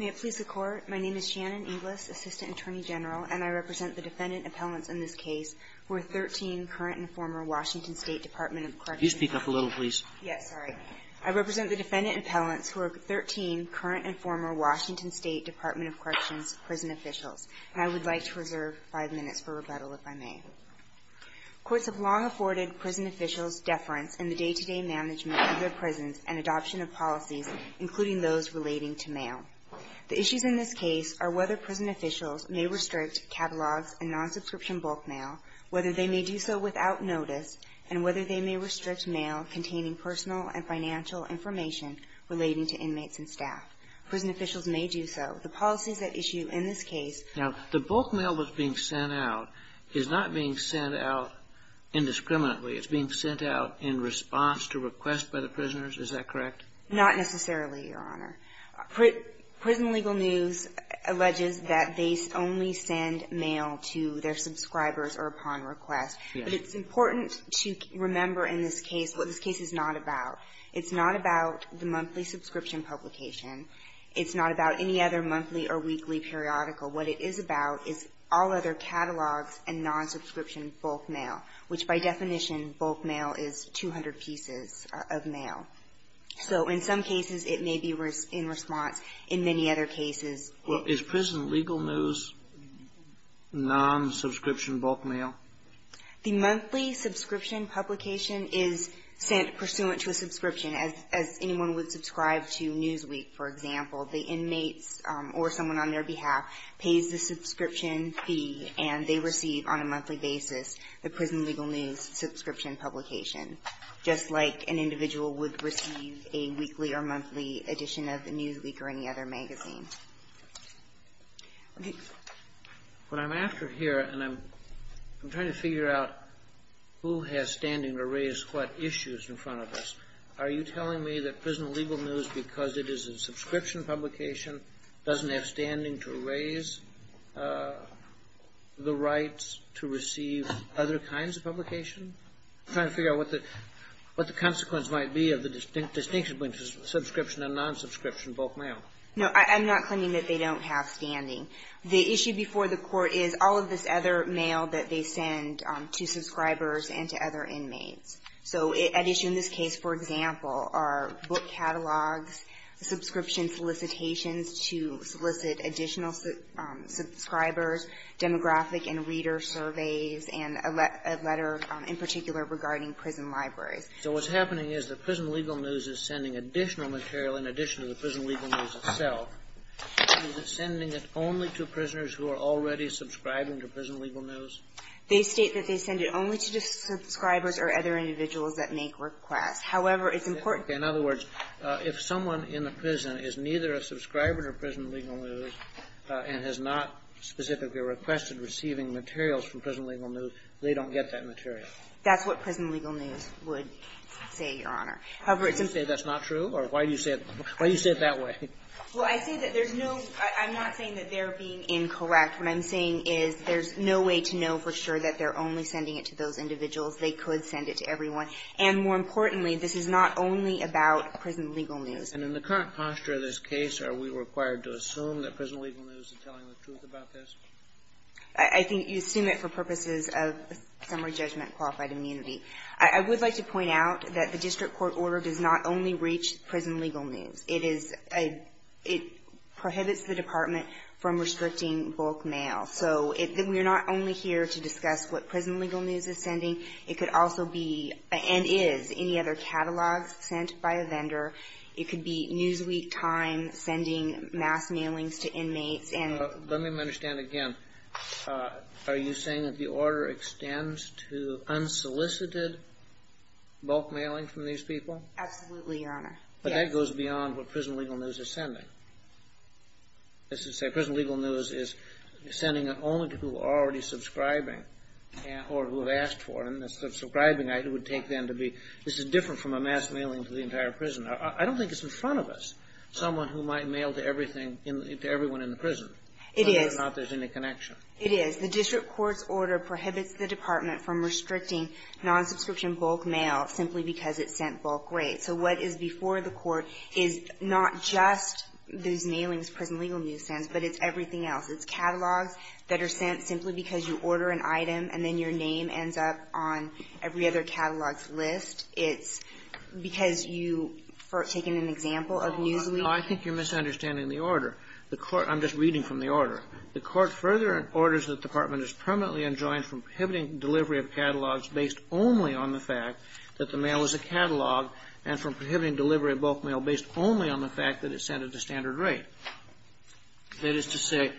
May it please the Court, my name is Shannon Inglis, Assistant Attorney General, and I represent the defendant appellants in this case, who are 13 current and former Washington State Department of Corrections Can you speak up a little please? Yes, sorry. I represent the defendant appellants who are 13 current and former Washington State Department of Corrections prison officials, and I would like to reserve five minutes for rebuttal if I may. Courts have long afforded prison officials deference in the day-to-day management of their prisons and adoption of policies, including those relating to mail. The issues in this case are whether prison officials may restrict catalogs and non-subscription bulk mail, whether they may do so without notice, and whether they may restrict mail containing personal and financial information relating to inmates and staff. Prison officials may do so. The policies at issue in this case Now, the bulk mail that's being sent out is not being sent out indiscriminately. It's being sent out in response to requests by the prisoners. Is that correct? Not necessarily, Your Honor. Prison Legal News alleges that they only send mail to their subscribers or upon request. Yes. But it's important to remember in this case what this case is not about. It's not about the monthly subscription publication. It's not about any other monthly or weekly periodical. What it is about is all other catalogs and non-subscription bulk mail, which by definition, bulk mail is 200 pieces of mail. So in some cases, it may be in response. In many other cases… Well, is Prison Legal News non-subscription bulk mail? The monthly subscription publication is sent pursuant to a subscription. As anyone would subscribe to Newsweek, for example, the inmates or someone on their behalf pays the subscription fee, and they receive on a monthly basis the Prison Legal News subscription publication, just like an individual would receive a weekly or monthly edition of Newsweek or any other magazine. When I'm after here and I'm trying to figure out who has standing to raise what issues in front of us, are you telling me that Prison Legal News, because it is a subscription publication, doesn't have standing to raise the rights to receive other kinds of publication? I'm trying to figure out what the consequence might be of the distinction between subscription and non-subscription bulk mail. No, I'm not claiming that they don't have standing. The issue before the Court is all of this other mail that they send to subscribers and to other inmates. So at issue in this case, for example, are book catalogs, subscription solicitations to solicit additional subscribers, demographic and reader surveys, and a letter in particular regarding prison libraries. So what's happening is that Prison Legal News is sending additional material, in addition to the Prison Legal News itself. Is it sending it only to prisoners who are already subscribing to Prison Legal News? They state that they send it only to subscribers or other individuals that make requests. However, it's important to me. In other words, if someone in the prison is neither a subscriber to Prison Legal News and has not specifically requested receiving materials from Prison Legal News, they don't get that material. That's what Prison Legal News would say, Your Honor. However, it's important to me. Do you say that's not true? Or why do you say it that way? Well, I say that there's no – I'm not saying that they're being incorrect. What I'm saying is there's no way to know for sure that they're only sending it to those individuals. They could send it to everyone. And more importantly, this is not only about Prison Legal News. And in the current posture of this case, are we required to assume that Prison Legal News is telling the truth about this? I think you assume it for purposes of summary judgment qualified immunity. I would like to point out that the district court order does not only reach Prison Legal News. It is a – it prohibits the department from restricting bulk mail. So we're not only here to discuss what Prison Legal News is sending. It could also be, and is, any other catalogs sent by a vendor. It could be Newsweek, Time, sending mass mailings to inmates. Let me understand again. Are you saying that the order extends to unsolicited bulk mailing from these people? Absolutely, Your Honor. Yes. But that goes beyond what Prison Legal News is sending. As I say, Prison Legal News is sending it only to people who are already subscribing or who have asked for it. And the subscribing, it would take them to be – this is different from a mass mailing to the entire prison. I don't think it's in front of us, someone who might mail to everything – to everyone in the prison. It is. Whether or not there's any connection. It is. The district court's order prohibits the department from restricting non-subscription bulk mail simply because it sent bulk rate. So what is before the court is not just these mailings Prison Legal News sends, but it's everything else. It's catalogs that are sent simply because you order an item, and then your name ends up on every other catalog's list. It's because you – for taking an example of Newsweek. No, I think you're misunderstanding the order. The court – I'm just reading from the order. The court further orders that the department is permanently enjoined from prohibiting delivery of catalogs based only on the fact that the mail is a catalog, and from prohibiting delivery of bulk mail based only on the fact that it's sent at the standard rate. That is to say,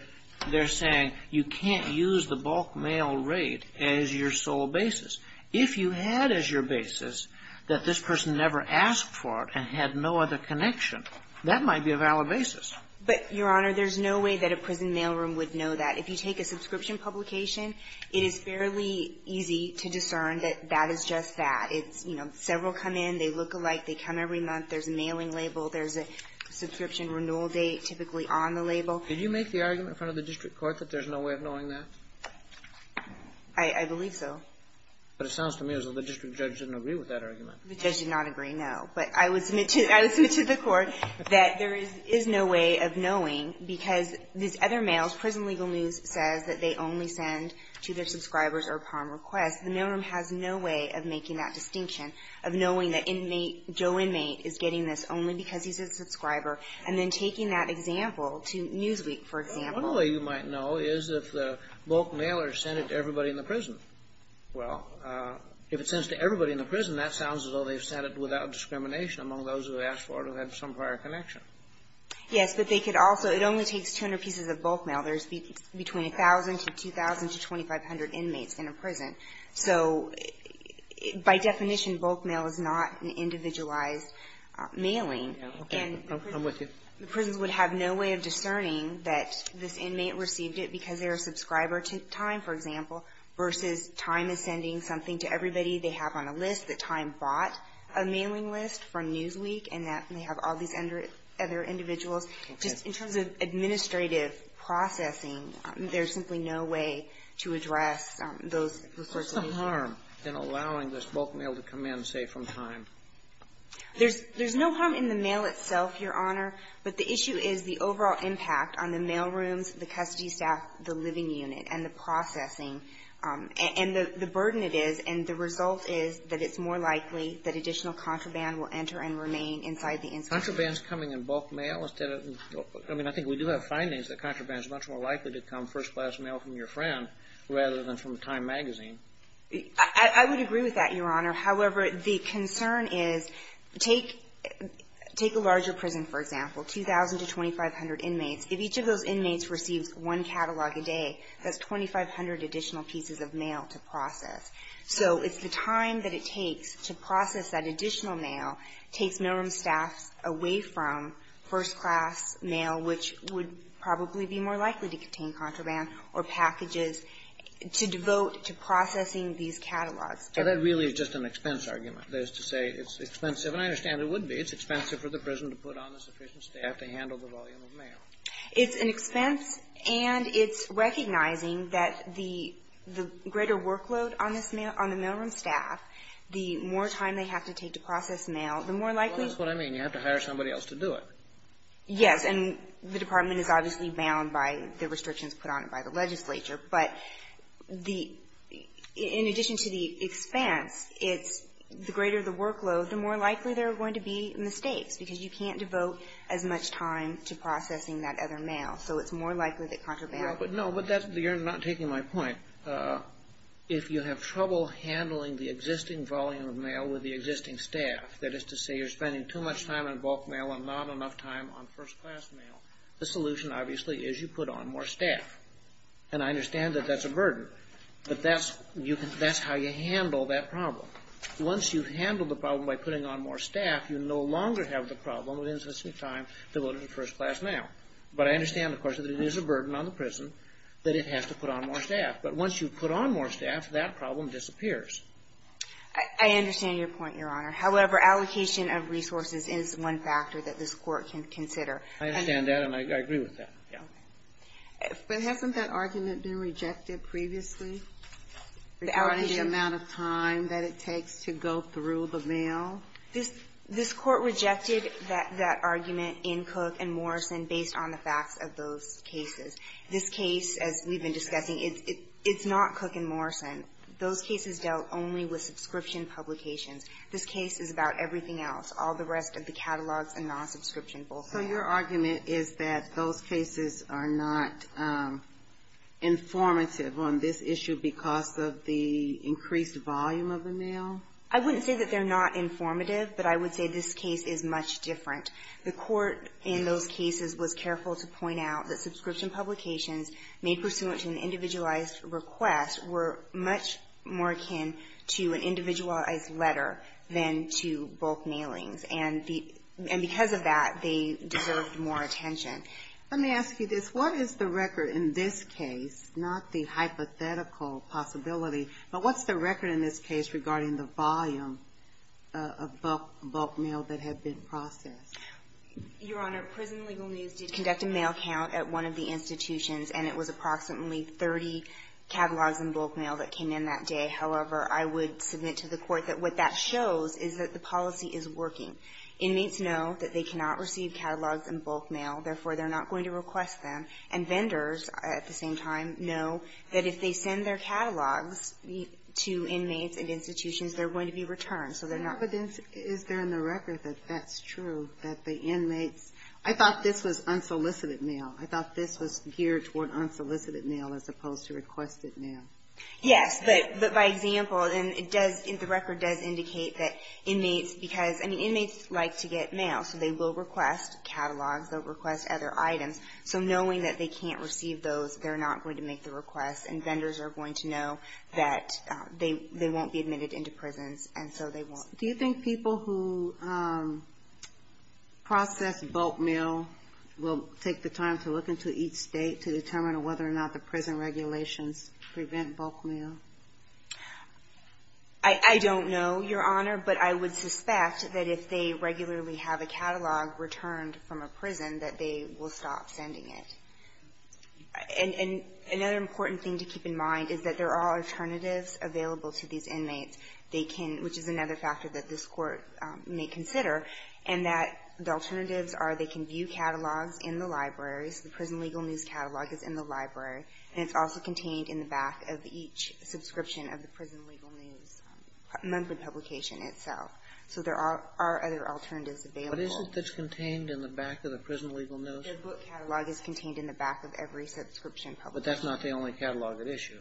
they're saying you can't use the bulk mail rate as your sole basis. If you had as your basis that this person never asked for it and had no other connection, that might be a valid basis. But, Your Honor, there's no way that a prison mailroom would know that. If you take a subscription publication, it is fairly easy to discern that that is just that. It's, you know, several come in, they look alike, they come every month, there's a mailing label, there's a subscription renewal date typically on the label. Did you make the argument in front of the district court that there's no way of knowing that? I believe so. But it sounds to me as though the district judge didn't agree with that argument. The judge did not agree, no. But I would submit to the court that there is no way of knowing, because these other mails, Prison Legal News says that they only send to their subscribers or upon request. The mailroom has no way of making that distinction, of knowing that inmate, Joe inmate is getting this only because he's a subscriber, and then taking that example to Newsweek, for example. One way you might know is if the bulk mailers send it to everybody in the prison. Well, if it sends to everybody in the prison, that sounds as though they've sent it without discrimination among those who asked for it or had some prior connection. Yes, but they could also – it only takes 200 pieces of bulk mail. There's between 1,000 to 2,000 to 2,500 inmates in a prison. So by definition, bulk mail is not an individualized mailing. Okay. I'm with you. The prisons would have no way of discerning that this inmate received it because they're a subscriber to Time, for example, versus Time is sending something to everybody they have on a list, that Time bought a mailing list from Newsweek, and that they have all these other individuals. Just in terms of administrative processing, there's simply no way to address those sorts of issues. What's the harm in allowing this bulk mail to come in, say, from Time? There's no harm in the mail itself, Your Honor, but the issue is the overall impact on the mail rooms, the custody staff, the living unit, and the processing and the burden it is, and the result is that it's more likely that additional contraband will enter and remain inside the institution. Contraband is coming in bulk mail instead of – I mean, I think we do have findings that contraband is much more likely to come first-class mail from your friend rather than from Time magazine. I would agree with that, Your Honor. However, the concern is take a larger prison, for example, 2,000 to 2,500 inmates. If each of those inmates receives one catalog a day, that's 2,500 additional pieces of mail to process. So it's the time that it takes to process that additional mail takes mail room staffs away from first-class mail, which would probably be more likely to contain processing these catalogs. So that really is just an expense argument, is to say it's expensive. And I understand it would be. It's expensive for the prison to put on the sufficient staff to handle the volume of mail. It's an expense, and it's recognizing that the greater workload on this mail – on the mail room staff, the more time they have to take to process mail, the more likely Well, that's what I mean. You have to hire somebody else to do it. Yes. And the Department is obviously bound by the restrictions put on it by the legislature. But the – in addition to the expense, it's – the greater the workload, the more likely there are going to be mistakes, because you can't devote as much time to processing that other mail. So it's more likely that contraband – Yeah, but no, but that's – you're not taking my point. If you have trouble handling the existing volume of mail with the existing staff, that is to say you're spending too much time on bulk mail and not enough time on first-class mail, the solution, obviously, is you put on more staff. And I understand that that's a burden. But that's – you can – that's how you handle that problem. Once you've handled the problem by putting on more staff, you no longer have the problem with insufficient time to go to the first-class mail. But I understand, of course, that it is a burden on the prison that it has to put on more staff. But once you put on more staff, that problem disappears. I understand your point, Your Honor. However, allocation of resources is one factor that this Court can consider. I understand that, and I agree with that. Yeah. But hasn't that argument been rejected previously, regarding the amount of time that it takes to go through the mail? This – this Court rejected that – that argument in Cook and Morrison based on the facts of those cases. This case, as we've been discussing, it's not Cook and Morrison. Those cases dealt only with subscription publications. This case is about everything else, all the rest of the catalogs and non-subscription bulk mail. So your argument is that those cases are not informative on this issue because of the increased volume of the mail? I wouldn't say that they're not informative, but I would say this case is much different. The Court in those cases was careful to point out that subscription publications made pursuant to an individualized request were much more akin to an individualized letter than to bulk mailings. And because of that, they deserved more attention. Let me ask you this. What is the record in this case, not the hypothetical possibility, but what's the record in this case regarding the volume of bulk mail that had been processed? Your Honor, Prison Legal News did conduct a mail count at one of the institutions, and it was approximately 30 catalogs in bulk mail that came in that day. However, I would submit to the Court that what that shows is that the policy is working. Inmates know that they cannot receive catalogs in bulk mail. Therefore, they're not going to request them. And vendors, at the same time, know that if they send their catalogs to inmates and institutions, they're going to be returned. So they're not going to be returned. But is there in the record that that's true, that the inmates – I thought this was unsolicited mail. I thought this was geared toward unsolicited mail as opposed to requested mail. Yes. But by example, it does – the record does indicate that inmates – because, I mean, inmates like to get mail. So they will request catalogs. They'll request other items. So knowing that they can't receive those, they're not going to make the request. And vendors are going to know that they won't be admitted into prisons, and so they won't. Do you think people who process bulk mail will take the time to look into each state to determine whether or not the prison regulations prevent bulk mail? I don't know, Your Honor. But I would suspect that if they regularly have a catalog returned from a prison, that they will stop sending it. And another important thing to keep in mind is that there are alternatives available to these inmates. They can – which is another factor that this Court may consider – and that the alternatives are they can view catalogs in the libraries, the prison legal news catalog is in the library, and it's also contained in the back of each subscription of the prison legal news monthly publication itself. So there are other alternatives available. But isn't this contained in the back of the prison legal news? The book catalog is contained in the back of every subscription publication. But that's not the only catalog at issue.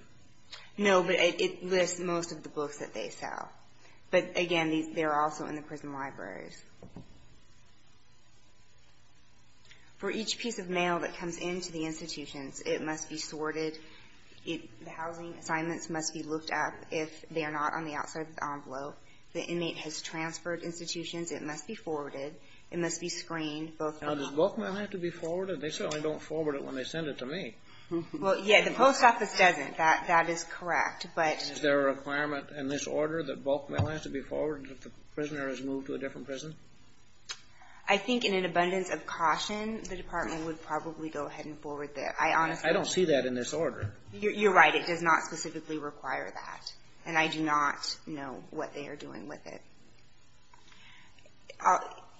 No, but it lists most of the books that they sell. But, again, they're also in the prison libraries. For each piece of mail that comes into the institutions, it must be sorted. The housing assignments must be looked at if they are not on the outside of the envelope. The inmate has transferred institutions. It must be forwarded. It must be screened. Now, does bulk mail have to be forwarded? They certainly don't forward it when they send it to me. Well, yeah, the post office doesn't. That is correct. But – Is there a requirement in this order that bulk mail has to be forwarded if the prisoner has moved to a different prison? I think in an abundance of caution, the Department would probably go ahead and forward that. I honestly – I don't see that in this order. You're right. It does not specifically require that. And I do not know what they are doing with it.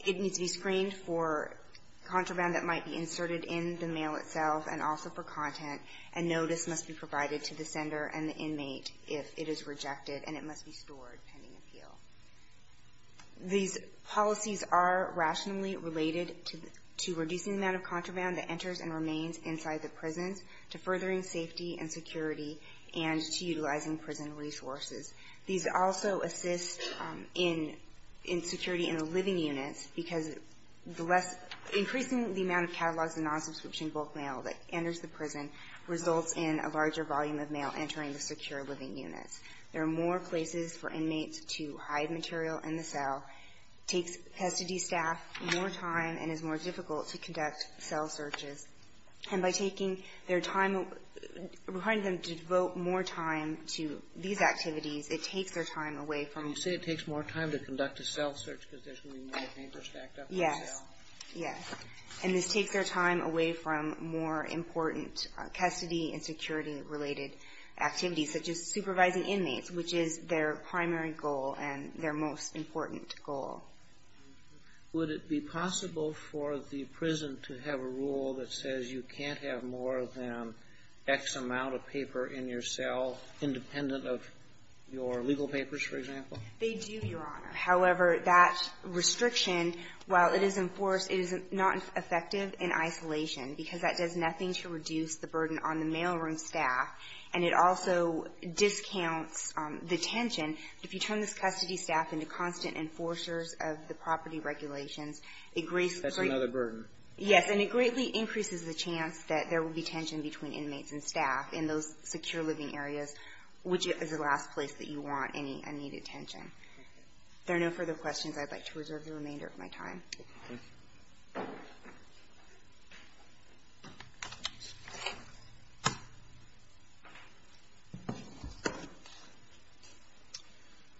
It needs to be screened for contraband that might be inserted in the mail itself and also for content. And notice must be provided to the sender and the inmate if it is rejected. And it must be stored pending appeal. These policies are rationally related to reducing the amount of contraband that enters and remains inside the prisons, to furthering safety and security, and to utilizing prison resources. These also assist in security in the living units because the less – increasing the amount of catalogs and non-subscription bulk mail that enters the prison results in a larger volume of mail entering the secure living units. There are more places for inmates to hide material in the cell, takes custody staff more time, and is more difficult to conduct cell searches. And by taking their time – requiring them to devote more time to these activities, it takes their time away from – You say it takes more time to conduct a cell search because there's going to be more papers stacked up in the cell? Yes. Yes. And this takes their time away from more important custody and security-related activities, such as supervising inmates, which is their primary goal and their most important goal. Would it be possible for the prison to have a rule that says you can't have more than X amount of paper in your cell, independent of your legal papers, for example? They do, Your Honor. However, that restriction, while it is enforced, it is not effective in isolation because that does nothing to reduce the burden on the mailroom staff, and it also discounts the tension. If you turn this custody staff into constant enforcers of the property regulations, it greatly – That's another burden. Yes. And it greatly increases the chance that there will be tension between inmates and staff in those secure living areas, which is the last place that you want any unneeded tension. If there are no further questions, I'd like to reserve the remainder of my time. Thank you.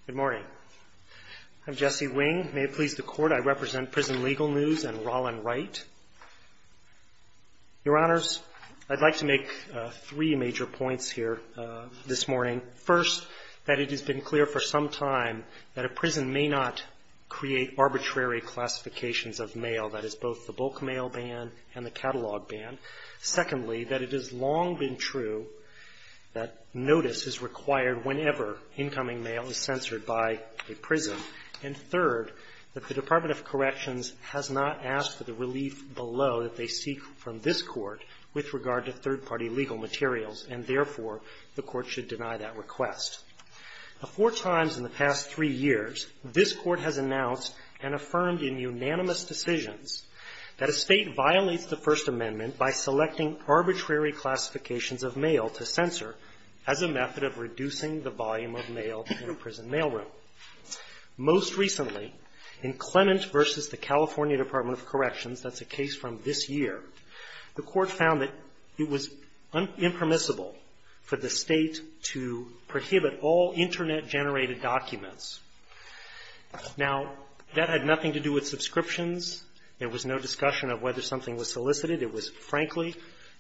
Good morning. I'm Jesse Wing. May it please the Court, I represent Prison Legal News and Rollin Wright. Your Honors, I'd like to make three major points here this morning. First, that it has been clear for some time that a prison may not create arbitrary classifications of mail, that is, both the bulk mail ban and the catalog ban. Secondly, that it has long been true that notice is required whenever incoming mail is censored by a prison. And third, that the Department of Corrections has not asked for the relief below that they seek from this Court with regard to third-party legal materials, and therefore, the Court should deny that request. Four times in the past three years, this Court has announced and affirmed in unanimous decisions that a State violates the First Amendment by selecting arbitrary classifications of mail to censor as a method of reducing the volume of mail in a prison mailroom. Most recently, in Clement v. the California Department of Corrections, that's a case from this year, the Court found that it was impermissible for the State to prohibit all Internet-generated documents. Now, that had nothing to do with subscriptions. There was no discussion of whether something was solicited. It was, frankly,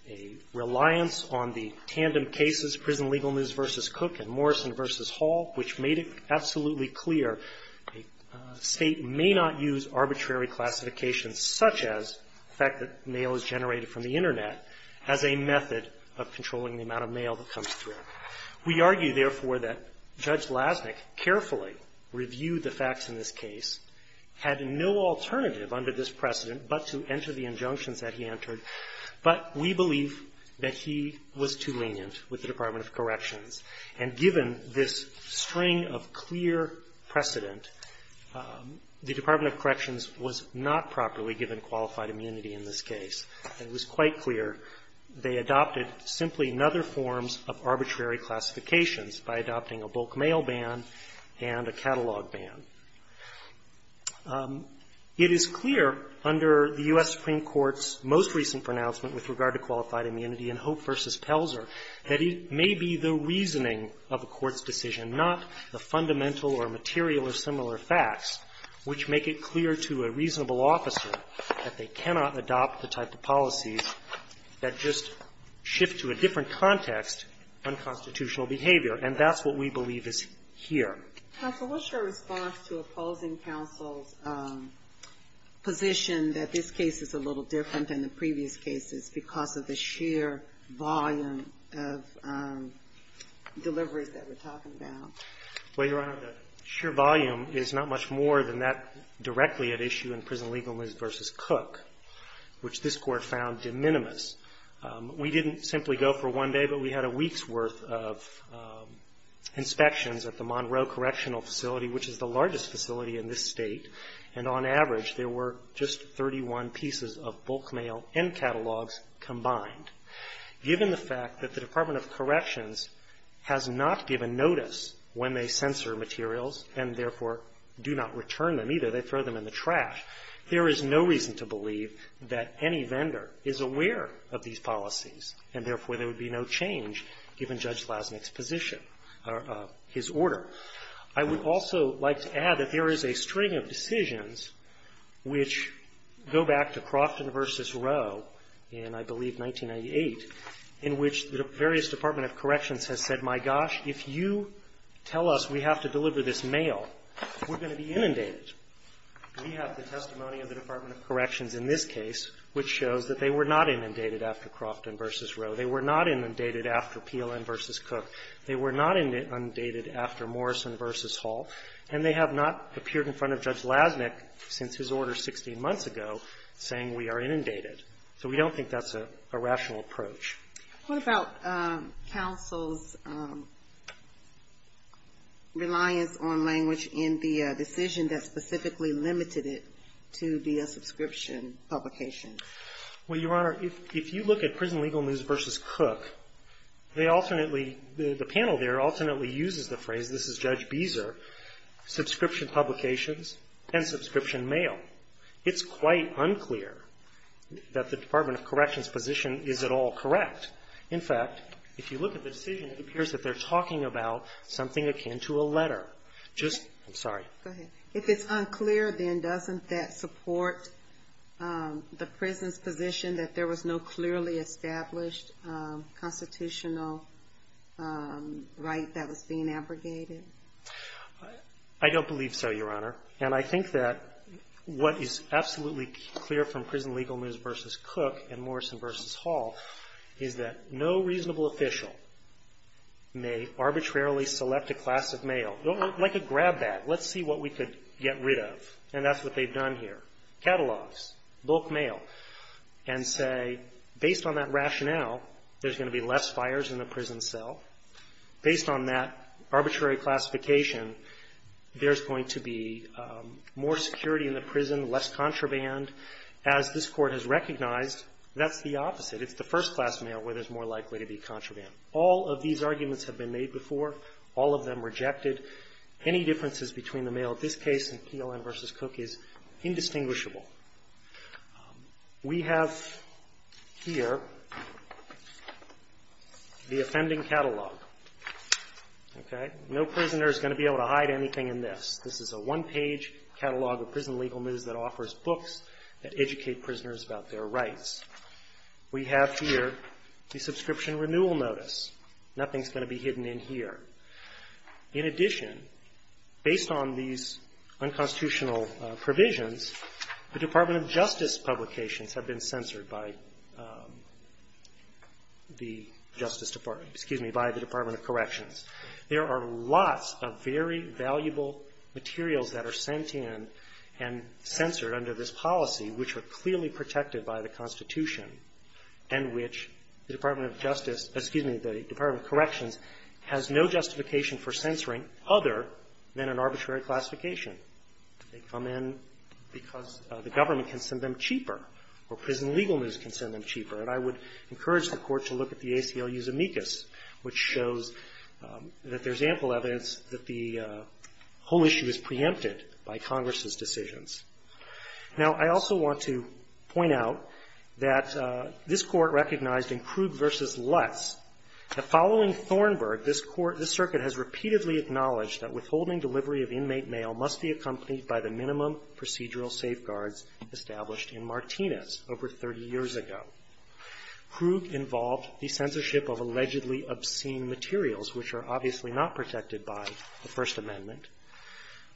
a reliance on the tandem cases, Prison Legal News v. Cook and Morrison v. Hall, which made it absolutely clear a State may not use arbitrary classifications such as the fact that mail is generated from the Internet as a method of controlling the amount of mail that comes through. We argue, therefore, that Judge Lasnik carefully reviewed the facts in this case, had no alternative under this precedent but to enter the injunctions that he entered, but we believe that he was too lenient with the Department of Corrections. And given this string of clear precedent, the Department of Corrections was not properly given qualified immunity in this case. It was quite clear they adopted simply another forms of arbitrary classifications by adopting a bulk mail ban and a catalog ban. It is clear under the U.S. Supreme Court's most recent pronouncement with regard to qualified immunity in Hope v. Pelzer that it may be the reasoning of a court's decision, not the fundamental or material or similar facts, which make it clear to a court that there are policies that just shift to a different context unconstitutional behavior, and that's what we believe is here. Ginsburg. Counsel, what's your response to opposing counsel's position that this case is a little different than the previous cases because of the sheer volume of deliveries that we're talking about? Well, Your Honor, the sheer volume is not much more than that directly at issue in Prison Legalism v. Cook, which this court found de minimis. We didn't simply go for one day, but we had a week's worth of inspections at the Monroe Correctional Facility, which is the largest facility in this state, and on average there were just 31 pieces of bulk mail and catalogs combined. Given the fact that the Department of Corrections has not given notice when they censor materials and therefore do not return them either, they throw them in the trash, there is no reason to believe that any vendor is aware of these policies, and therefore there would be no change given Judge Lasnik's position or his order. I would also like to add that there is a string of decisions which go back to Crofton v. Rowe in, I believe, 1998, in which the various Department of Corrections has said, my gosh, if you tell us we have to deliver this mail, we're going to be inundated. We have the testimony of the Department of Corrections in this case, which shows that they were not inundated after Crofton v. Rowe. They were not inundated after PLN v. Cook. They were not inundated after Morrison v. Hall. And they have not appeared in front of Judge Lasnik since his order 16 months ago saying we are inundated. So we don't think that's a rational approach. What about counsel's reliance on language in the decision that specifically limited it to be a subscription publication? Well, Your Honor, if you look at Prison Legal News v. Cook, they alternately, the panel there alternately uses the phrase, this is Judge Beezer, subscription publications and subscription mail. It's quite unclear that the Department of Corrections' position is at all correct. In fact, if you look at the decision, it appears that they're talking about something akin to a letter. Just, I'm sorry. Go ahead. If it's unclear, then doesn't that support the prison's position that there was no clearly established constitutional right that was being abrogated? I don't believe so, Your Honor. And I think that what is absolutely clear from Prison Legal News v. Cook and Morrison v. Hall is that no reasonable official may arbitrarily select a class of mail, like a grab bag. Let's see what we could get rid of. And that's what they've done here, catalogs, bulk mail, and say, based on that rationale, there's going to be less fires in the prison cell. Based on that arbitrary classification, there's going to be more security in the prison, less contraband. As this Court has recognized, that's the opposite. It's the first-class mail where there's more likely to be contraband. All of these arguments have been made before. All of them rejected. Any differences between the mail in this case and PLN v. Cook is indistinguishable. We have here the offending catalog, okay? No prisoner is going to be able to hide anything in this. This is a one-page catalog of Prison Legal News that offers books that educate prisoners about their rights. We have here the subscription renewal notice. Nothing's going to be hidden in here. In addition, based on these unconstitutional provisions, the Department of Justice publications have been censored by the Justice Department, excuse me, by the Department of Corrections. There are lots of very valuable materials that are sent in and censored under this policy, which are clearly protected by the Constitution, and which the Department of Justice, excuse me, the Department of Corrections has no justification for censoring other than an arbitrary classification. They come in because the government can send them cheaper, or Prison Legal News can send them cheaper. And I would encourage the Court to look at the ACLU's amicus, which shows that there's ample evidence that the whole issue is preempted by Congress's decisions. Now, I also want to point out that this Court recognized in Krug v. Lutz that following Thornburg, this Court, this Circuit has repeatedly acknowledged that withholding delivery of inmate mail must be accompanied by the minimum procedural safeguards established in Martinez over 30 years ago. Krug involved the censorship of allegedly obscene materials, which are obviously not protected by the First Amendment.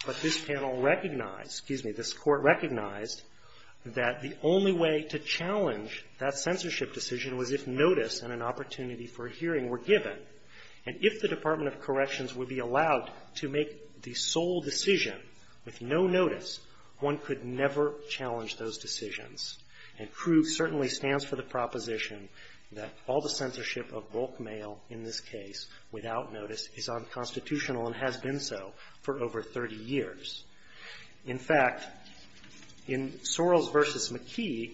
But this panel recognized, excuse me, this Court recognized that the only way to challenge that censorship decision was if notice and an opportunity for hearing were given. And if the Department of Corrections would be allowed to make the sole decision with no notice, one could never challenge those decisions. And Krug certainly stands for the proposition that all the censorship of bulk mail in this case, without notice, is unconstitutional and has been so for over 30 years. In fact, in Sorrells v. McKee,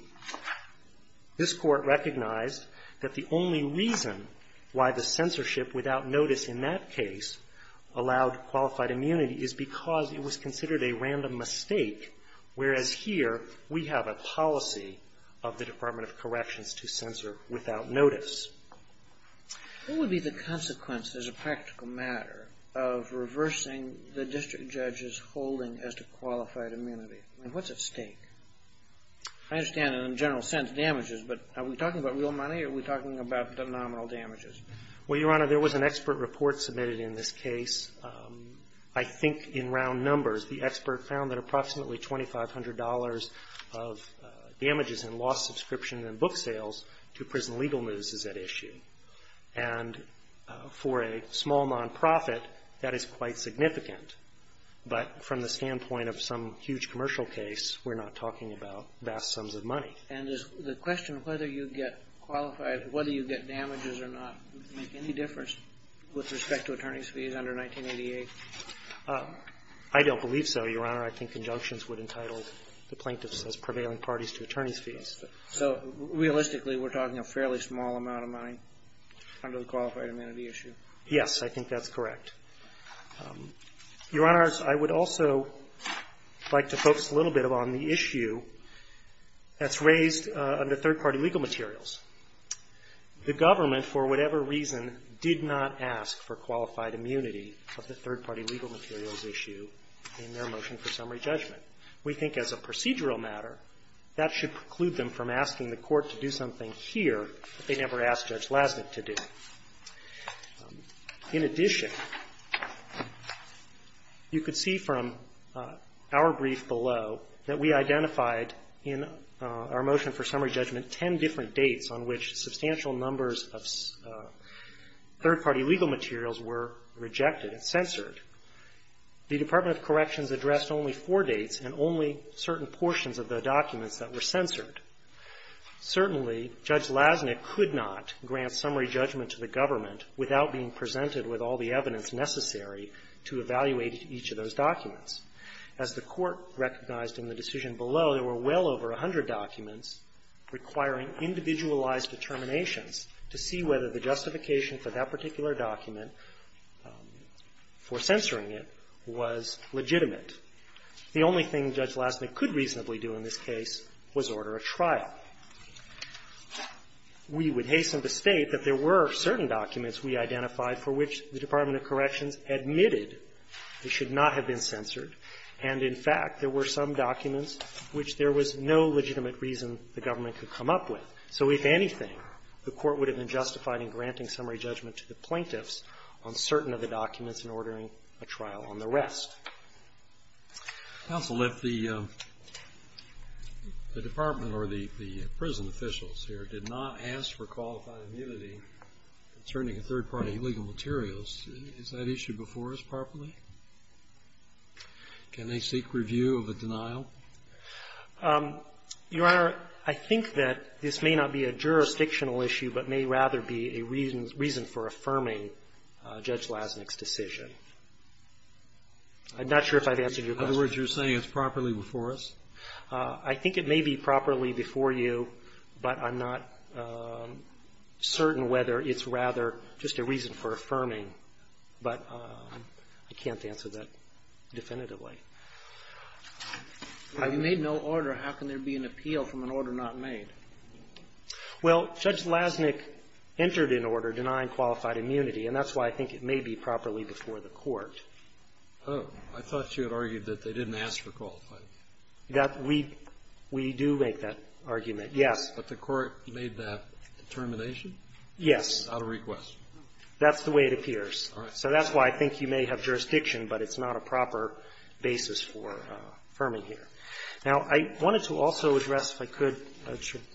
this Court recognized that the only reason why the censorship without notice in that case allowed qualified immunity is because it was considered a random mistake, whereas here we have a policy of the Department of Corrections to censor without notice. What would be the consequence, as a practical matter, of reversing the district judge's holding as to qualified immunity? I mean, what's at stake? I understand, in a general sense, damages, but are we talking about real money, or are we talking about the nominal damages? Well, Your Honor, there was an expert report submitted in this case. I think in round numbers, the expert found that approximately $2,500 of damages and lost subscription and book sales to prison legal news is at issue. And for a small nonprofit, that is quite significant. But from the standpoint of some huge commercial case, we're not talking about vast sums of money. And is the question of whether you get qualified, whether you get damages or not, make any difference with respect to attorney's fees under 1988? I don't believe so, Your Honor. I think injunctions would entitle the plaintiffs as prevailing parties to attorney's fees. So realistically, we're talking a fairly small amount of money under the qualified immunity issue? Yes, I think that's correct. Your Honor, I would also like to focus a little bit on the issue that's raised under third-party legal materials. The government, for whatever reason, did not ask for qualified immunity of the third-party legal materials issue in their motion for summary judgment. We think as a procedural matter, that should preclude them from asking the court to do something here that they never asked Judge Lasnik to do. In addition, you could see from our brief below that we identified in our motion for summary judgment ten different dates of the case on which substantial numbers of third-party legal materials were rejected and censored. The Department of Corrections addressed only four dates and only certain portions of the documents that were censored. Certainly, Judge Lasnik could not grant summary judgment to the government without being presented with all the evidence necessary to evaluate each of those documents. As the Court recognized in the decision below, there were well over a hundred documents requiring individualized determinations to see whether the justification for that particular document, for censoring it, was legitimate. The only thing Judge Lasnik could reasonably do in this case was order a trial. We would hasten to state that there were certain documents we identified for which the Department of Corrections admitted they should not have been censored, and in fact, there were some documents which there was no legitimate reason the government could come up with. So if anything, the Court would have been justified in granting summary judgment to the plaintiffs on certain of the documents and ordering a trial on the rest. Counsel, if the Department or the prison officials here did not ask for qualified immunity concerning a third-party legal materials, is that issue before us properly? Can they seek review of the denial? Your Honor, I think that this may not be a jurisdictional issue but may rather be a reason for affirming Judge Lasnik's decision. I'm not sure if I've answered your question. In other words, you're saying it's properly before us? I think it may be properly before you, but I'm not certain whether it's rather just a reason for affirming, but I can't answer that definitively. If you made no order, how can there be an appeal from an order not made? Well, Judge Lasnik entered an order denying qualified immunity, and that's why I think it may be properly before the Court. Oh. I thought you had argued that they didn't ask for qualified immunity. That we do make that argument, yes. But the Court made that determination? Yes. Without a request? That's the way it appears. All right. So that's why I think you may have jurisdiction, but it's not a proper basis for affirming here. Now, I wanted to also address, if I could,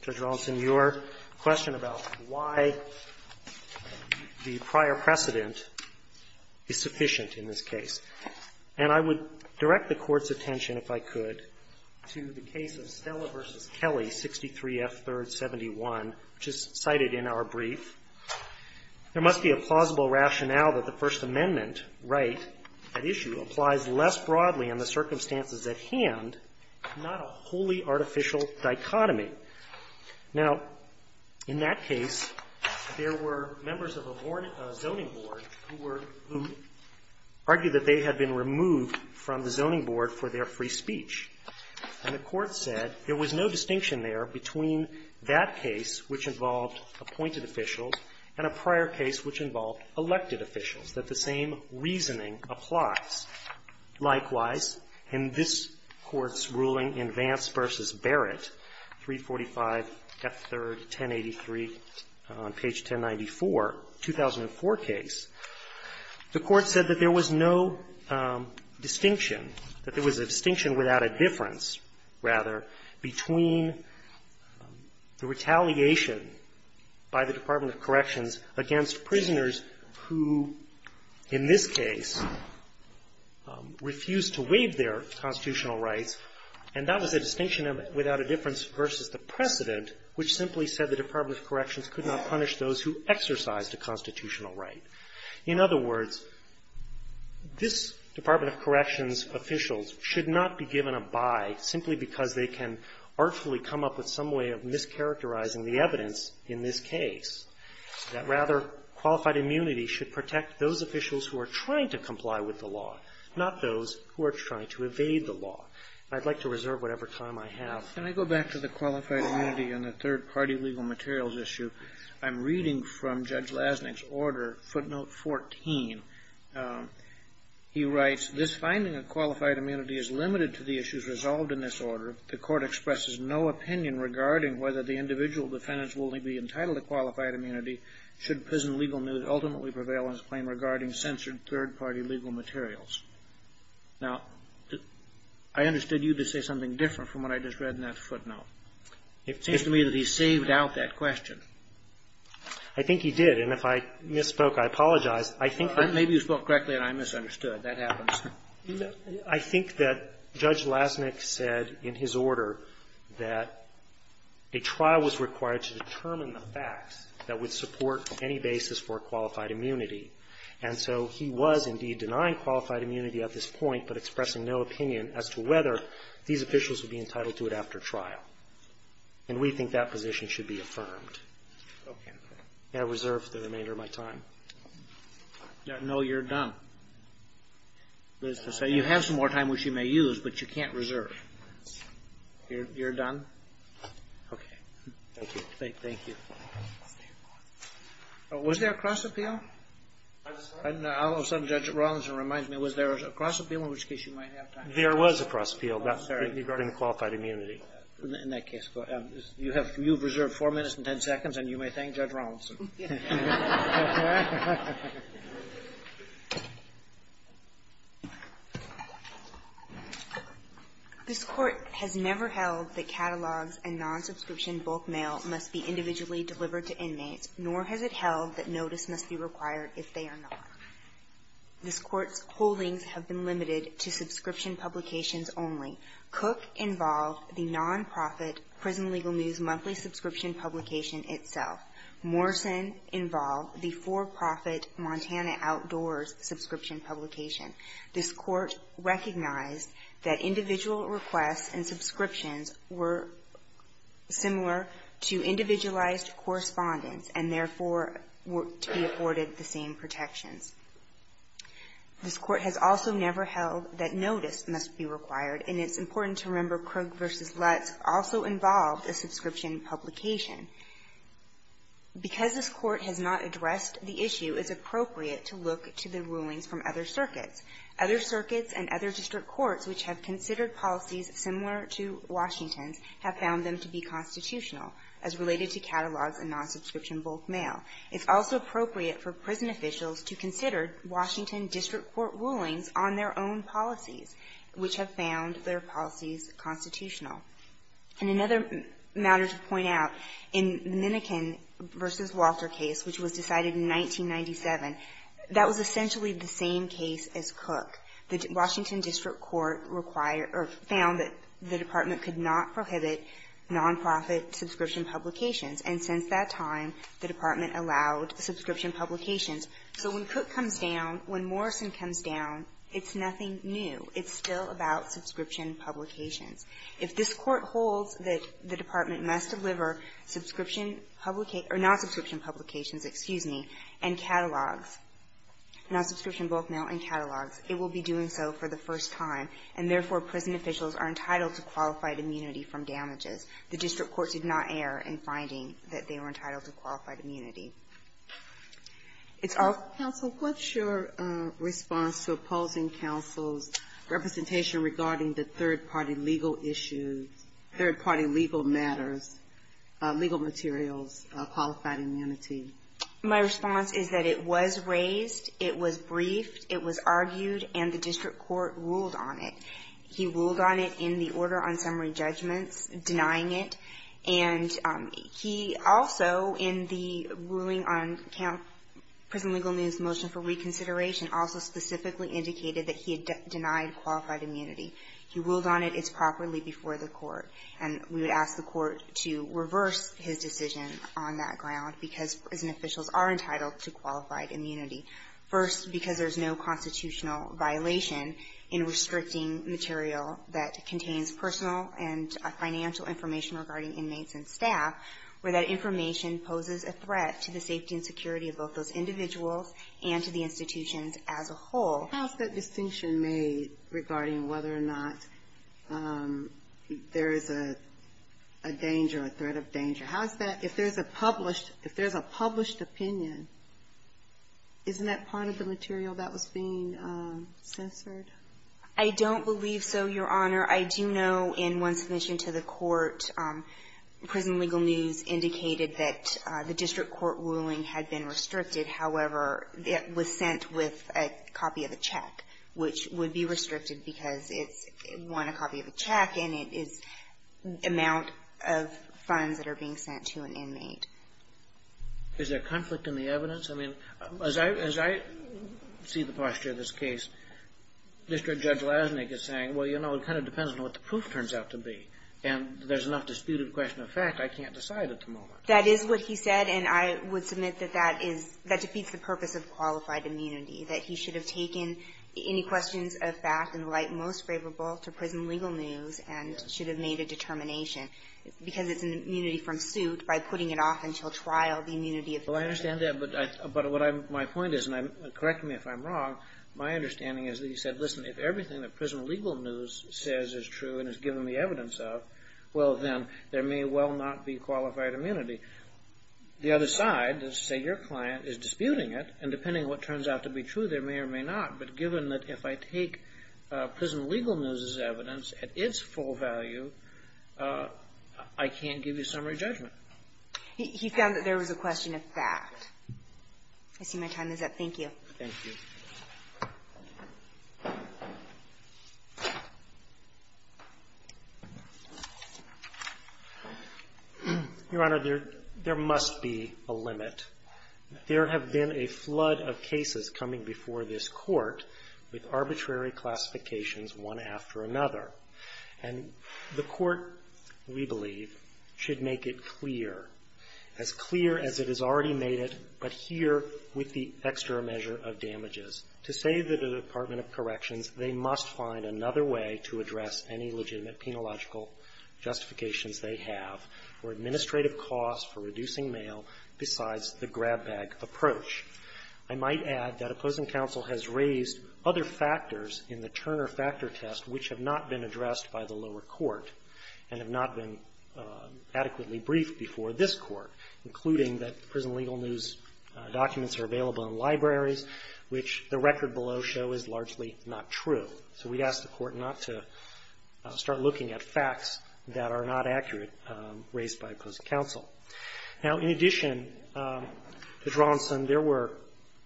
Judge Rawlinson, your question about why the prior precedent is sufficient in this case. And I would direct the Court's attention, if I could, to the case of Stella v. Kelly, 63F, 3rd, 71, which is cited in our brief. There must be a plausible rationale that the First Amendment right at issue applies less broadly in the circumstances at hand, not a wholly artificial dichotomy. Now, in that case, there were members of a zoning board who argued that they had been removed from the zoning board for their free speech. And the Court said there was no distinction there between that case, which involved appointed officials, and a prior case, which involved elected officials, that the same reasoning applies. Likewise, in this Court's ruling in Vance v. Barrett, 345F, 3rd, 1083, on page 1094, 2004 case, the Court said that there was no distinction, that there was a distinction without a difference, rather, between the retaliation by the Department of Corrections against prisoners who, in this case, refused to waive their constitutional rights. And that was a distinction without a difference versus the precedent, which simply said the Department of Corrections could not punish those who exercised a constitutional right. In other words, this Department of Corrections officials should not be given a buy simply because they can artfully come up with some way of mischaracterizing the evidence in this case. Rather, qualified immunity should protect those officials who are trying to comply with the law, not those who are trying to evade the law. I'd like to reserve whatever time I have. Kennedy. Can I go back to the qualified immunity in the third-party legal materials issue? I'm reading from Judge Lasnik's order, footnote 14. He writes, this finding of qualified immunity is limited to the issues resolved in this order. The Court expresses no opinion regarding whether the individual defendants will only be entitled to qualified immunity should prison legal news ultimately prevail on his claim regarding censored third-party legal materials. Now, I understood you to say something different from what I just read in that footnote. It seems to me that he saved out that question. I think he did. And if I misspoke, I apologize. I think that — Maybe you spoke correctly and I misunderstood. That happens. I think that Judge Lasnik said in his order that a trial was required to determine the facts that would support any basis for qualified immunity. And so he was, indeed, denying qualified immunity at this point, but expressing no opinion as to whether these officials would be entitled to it after trial. And we think that position should be affirmed. Okay. I reserve the remainder of my time. No, you're done. You have some more time, which you may use, but you can't reserve. You're done? Okay. Thank you. Thank you. Was there a cross-appeal? I'm sorry? I don't know. Some Judge Rawlinson reminds me. Was there a cross-appeal? In which case, you might have time. There was a cross-appeal. Oh, sorry. Regarding the qualified immunity. In that case. You have reserved four minutes and ten seconds, and you may thank Judge Rawlinson. This Court has never held that catalogs and non-subscription bulk mail must be individually delivered to inmates, nor has it held that notice must be required if they are not. This Court's holdings have been limited to subscription publications only. Cook involved the nonprofit Prison Legal News monthly subscription publication itself. Morrison involved the for-profit Montana Outdoors subscription publication. This Court recognized that individual requests and subscriptions were similar to individualized correspondence and, therefore, were to be afforded the same protections. This Court has also never held that notice must be required, and it's important to remember because this Court has not addressed the issue, it's appropriate to look to the rulings from other circuits. Other circuits and other district courts which have considered policies similar to Washington's have found them to be constitutional, as related to catalogs and non-subscription bulk mail. It's also appropriate for prison officials to consider Washington district court rulings on their own policies, which have found their policies constitutional. And another matter to point out, in Minniken v. Walter case, which was decided in 1997, that was essentially the same case as Cook. The Washington district court required or found that the department could not prohibit nonprofit subscription publications, and since that time, the department allowed subscription publications. So when Cook comes down, when Morrison comes down, it's nothing new. It's still about subscription publications. If this Court holds that the department must deliver subscription publication or non-subscription publications, excuse me, and catalogs, non-subscription bulk mail and catalogs, it will be doing so for the first time, and therefore, prison officials are entitled to qualified immunity from damages. The district court did not err in finding that they were entitled to qualified immunity. It's all of the same. Third-party legal matters, legal materials, qualified immunity. My response is that it was raised, it was briefed, it was argued, and the district court ruled on it. He ruled on it in the order on summary judgments, denying it. And he also, in the ruling on prison legal news motion for reconsideration, also specifically indicated that he had denied qualified immunity. He ruled on it. It's properly before the court. And we would ask the court to reverse his decision on that ground, because prison officials are entitled to qualified immunity. First, because there's no constitutional violation in restricting material that contains personal and financial information regarding inmates and staff, where that information poses a threat to the safety and security of both those individuals and to the institutions as a whole. How is that distinction made regarding whether or not there is a danger, a threat of danger? How is that, if there's a published opinion, isn't that part of the material that was being censored? I don't believe so, Your Honor. I do know in one submission to the court, prison legal news indicated that the district court ruling had been restricted. However, it was sent with a copy of the check, which would be restricted because it's one copy of the check, and it is the amount of funds that are being sent to an inmate. Is there conflict in the evidence? I mean, as I see the posture of this case, District Judge Lasnik is saying, well, you know, it kind of depends on what the proof turns out to be. And there's enough disputed question of fact, I can't decide at the moment. That is what he said, and I would submit that that is, that defeats the purpose of qualified immunity, that he should have taken any questions of fact and the like most favorable to prison legal news and should have made a determination because it's an immunity from suit by putting it off until trial, the immunity of the patient. Well, I understand that, but what my point is, and correct me if I'm wrong, my understanding is that he said, listen, if everything that prison legal news says is true and is given the evidence of, well, then there may well not be the other side that, say, your client is disputing it, and depending on what turns out to be true, there may or may not. But given that if I take prison legal news as evidence at its full value, I can't give you summary judgment. He found that there was a question of fact. I see my time is up. Thank you. Thank you. Your Honor, there must be a limit. There have been a flood of cases coming before this Court with arbitrary classifications one after another. And the Court, we believe, should make it clear, as clear as it has already made it, but here with the extra measure of damages. To save the Department of Corrections, they must find another way to address any legitimate penological justifications they have for administrative costs, for reducing mail, besides the grab bag approach. I might add that opposing counsel has raised other factors in the Turner factor test which have not been addressed by the lower court and have not been adequately briefed before this Court, including that prison legal news documents are available in libraries, which the record below show is largely not true. So we'd ask the Court not to start looking at facts that are not accurate, raised by opposing counsel. Now, in addition to Johnson, there were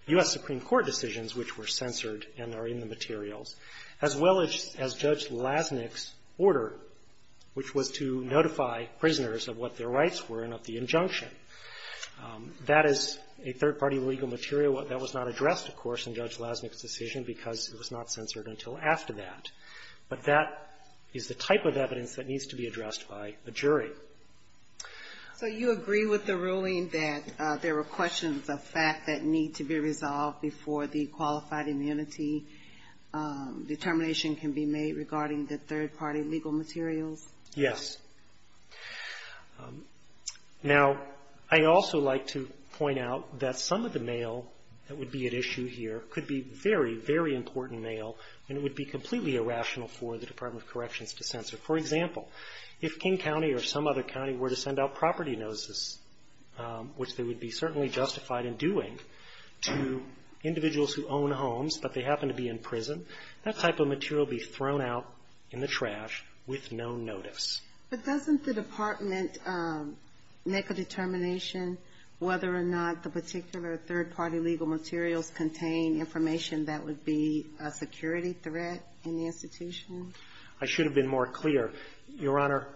U.S. Supreme Court decisions which were censored and are in the materials, as well as Judge Lasnik's order, which was to injunction. That is a third-party legal material. That was not addressed, of course, in Judge Lasnik's decision because it was not censored until after that. But that is the type of evidence that needs to be addressed by a jury. Ginsburg. So you agree with the ruling that there were questions of fact that need to be resolved before the qualified immunity determination can be made regarding the third-party legal materials? Yes. Now, I'd also like to point out that some of the mail that would be at issue here could be very, very important mail, and it would be completely irrational for the Department of Corrections to censor. For example, if King County or some other county were to send out property notices, which they would be certainly justified in doing, to individuals who own homes but they happen to be in prison, that type of material would be thrown out in the trash with no notice. But doesn't the Department make a determination whether or not the particular third-party legal materials contain information that would be a security threat in the institution? I should have been more clear. Your Honor,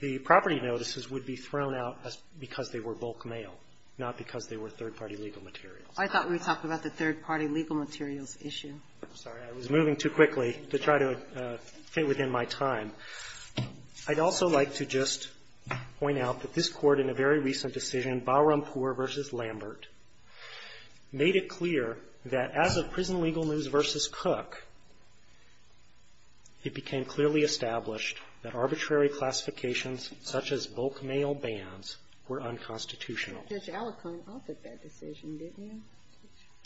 the property notices would be thrown out because they were bulk mail, not because they were third-party legal materials. I thought we talked about the third-party legal materials issue. I'm sorry. I was moving too quickly to try to fit within my time. I'd also like to just point out that this Court in a very recent decision, Balrampour v. Lambert, made it clear that as of Prison Legal News v. Cook, it became clearly established that arbitrary classifications such as bulk mail bans were unconstitutional. Judge Alicorn, I'll take that decision, didn't you?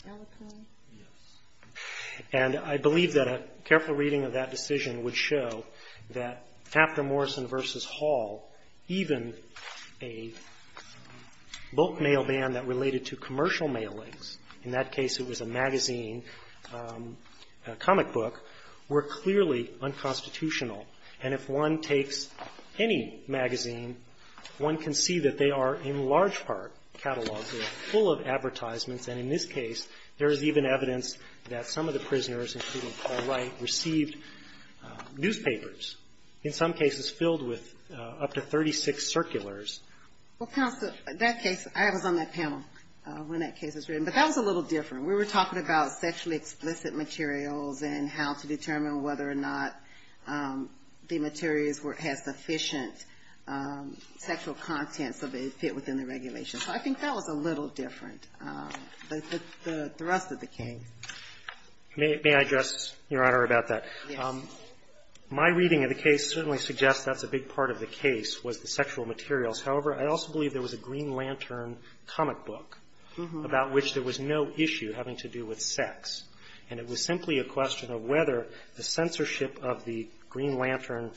Judge Alicorn? Yes. And I believe that a careful reading of that decision would show that after Morrison v. Hall, even a bulk mail ban that related to commercial mailings, in that case it was a magazine comic book, were clearly unconstitutional. And if one takes any magazine, one can see that they are in large part cataloged full of advertisements. And in this case, there is even evidence that some of the prisoners, including Paul Wright, received newspapers, in some cases filled with up to 36 circulars. Well, counsel, that case, I was on that panel when that case was written, but that was a little different. We were talking about sexually explicit materials and how to determine whether or not the materials were as efficient sexual contents of a fit within the regulation. So I think that was a little different than the rest of the case. May I address, Your Honor, about that? Yes. My reading of the case certainly suggests that's a big part of the case was the sexual materials. However, I also believe there was a Green Lantern comic book about which there was no issue having to do with sex. And it was simply a question of whether the censorship of the Green Lantern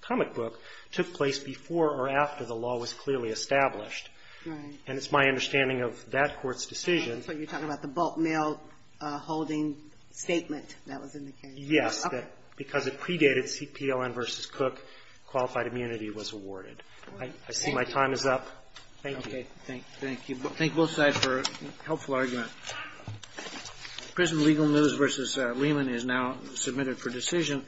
comic book took place before or after the law was clearly established. Right. And it's my understanding of that Court's decision. So you're talking about the bulk mail holding statement that was in the case. Yes. Okay. Because it predated CPLN v. Cook, qualified immunity was awarded. I see my time is up. Thank you. Okay. Thank you. Thank both sides for a helpful argument. Prisoner Legal News v. Lehman is now submitted for decision.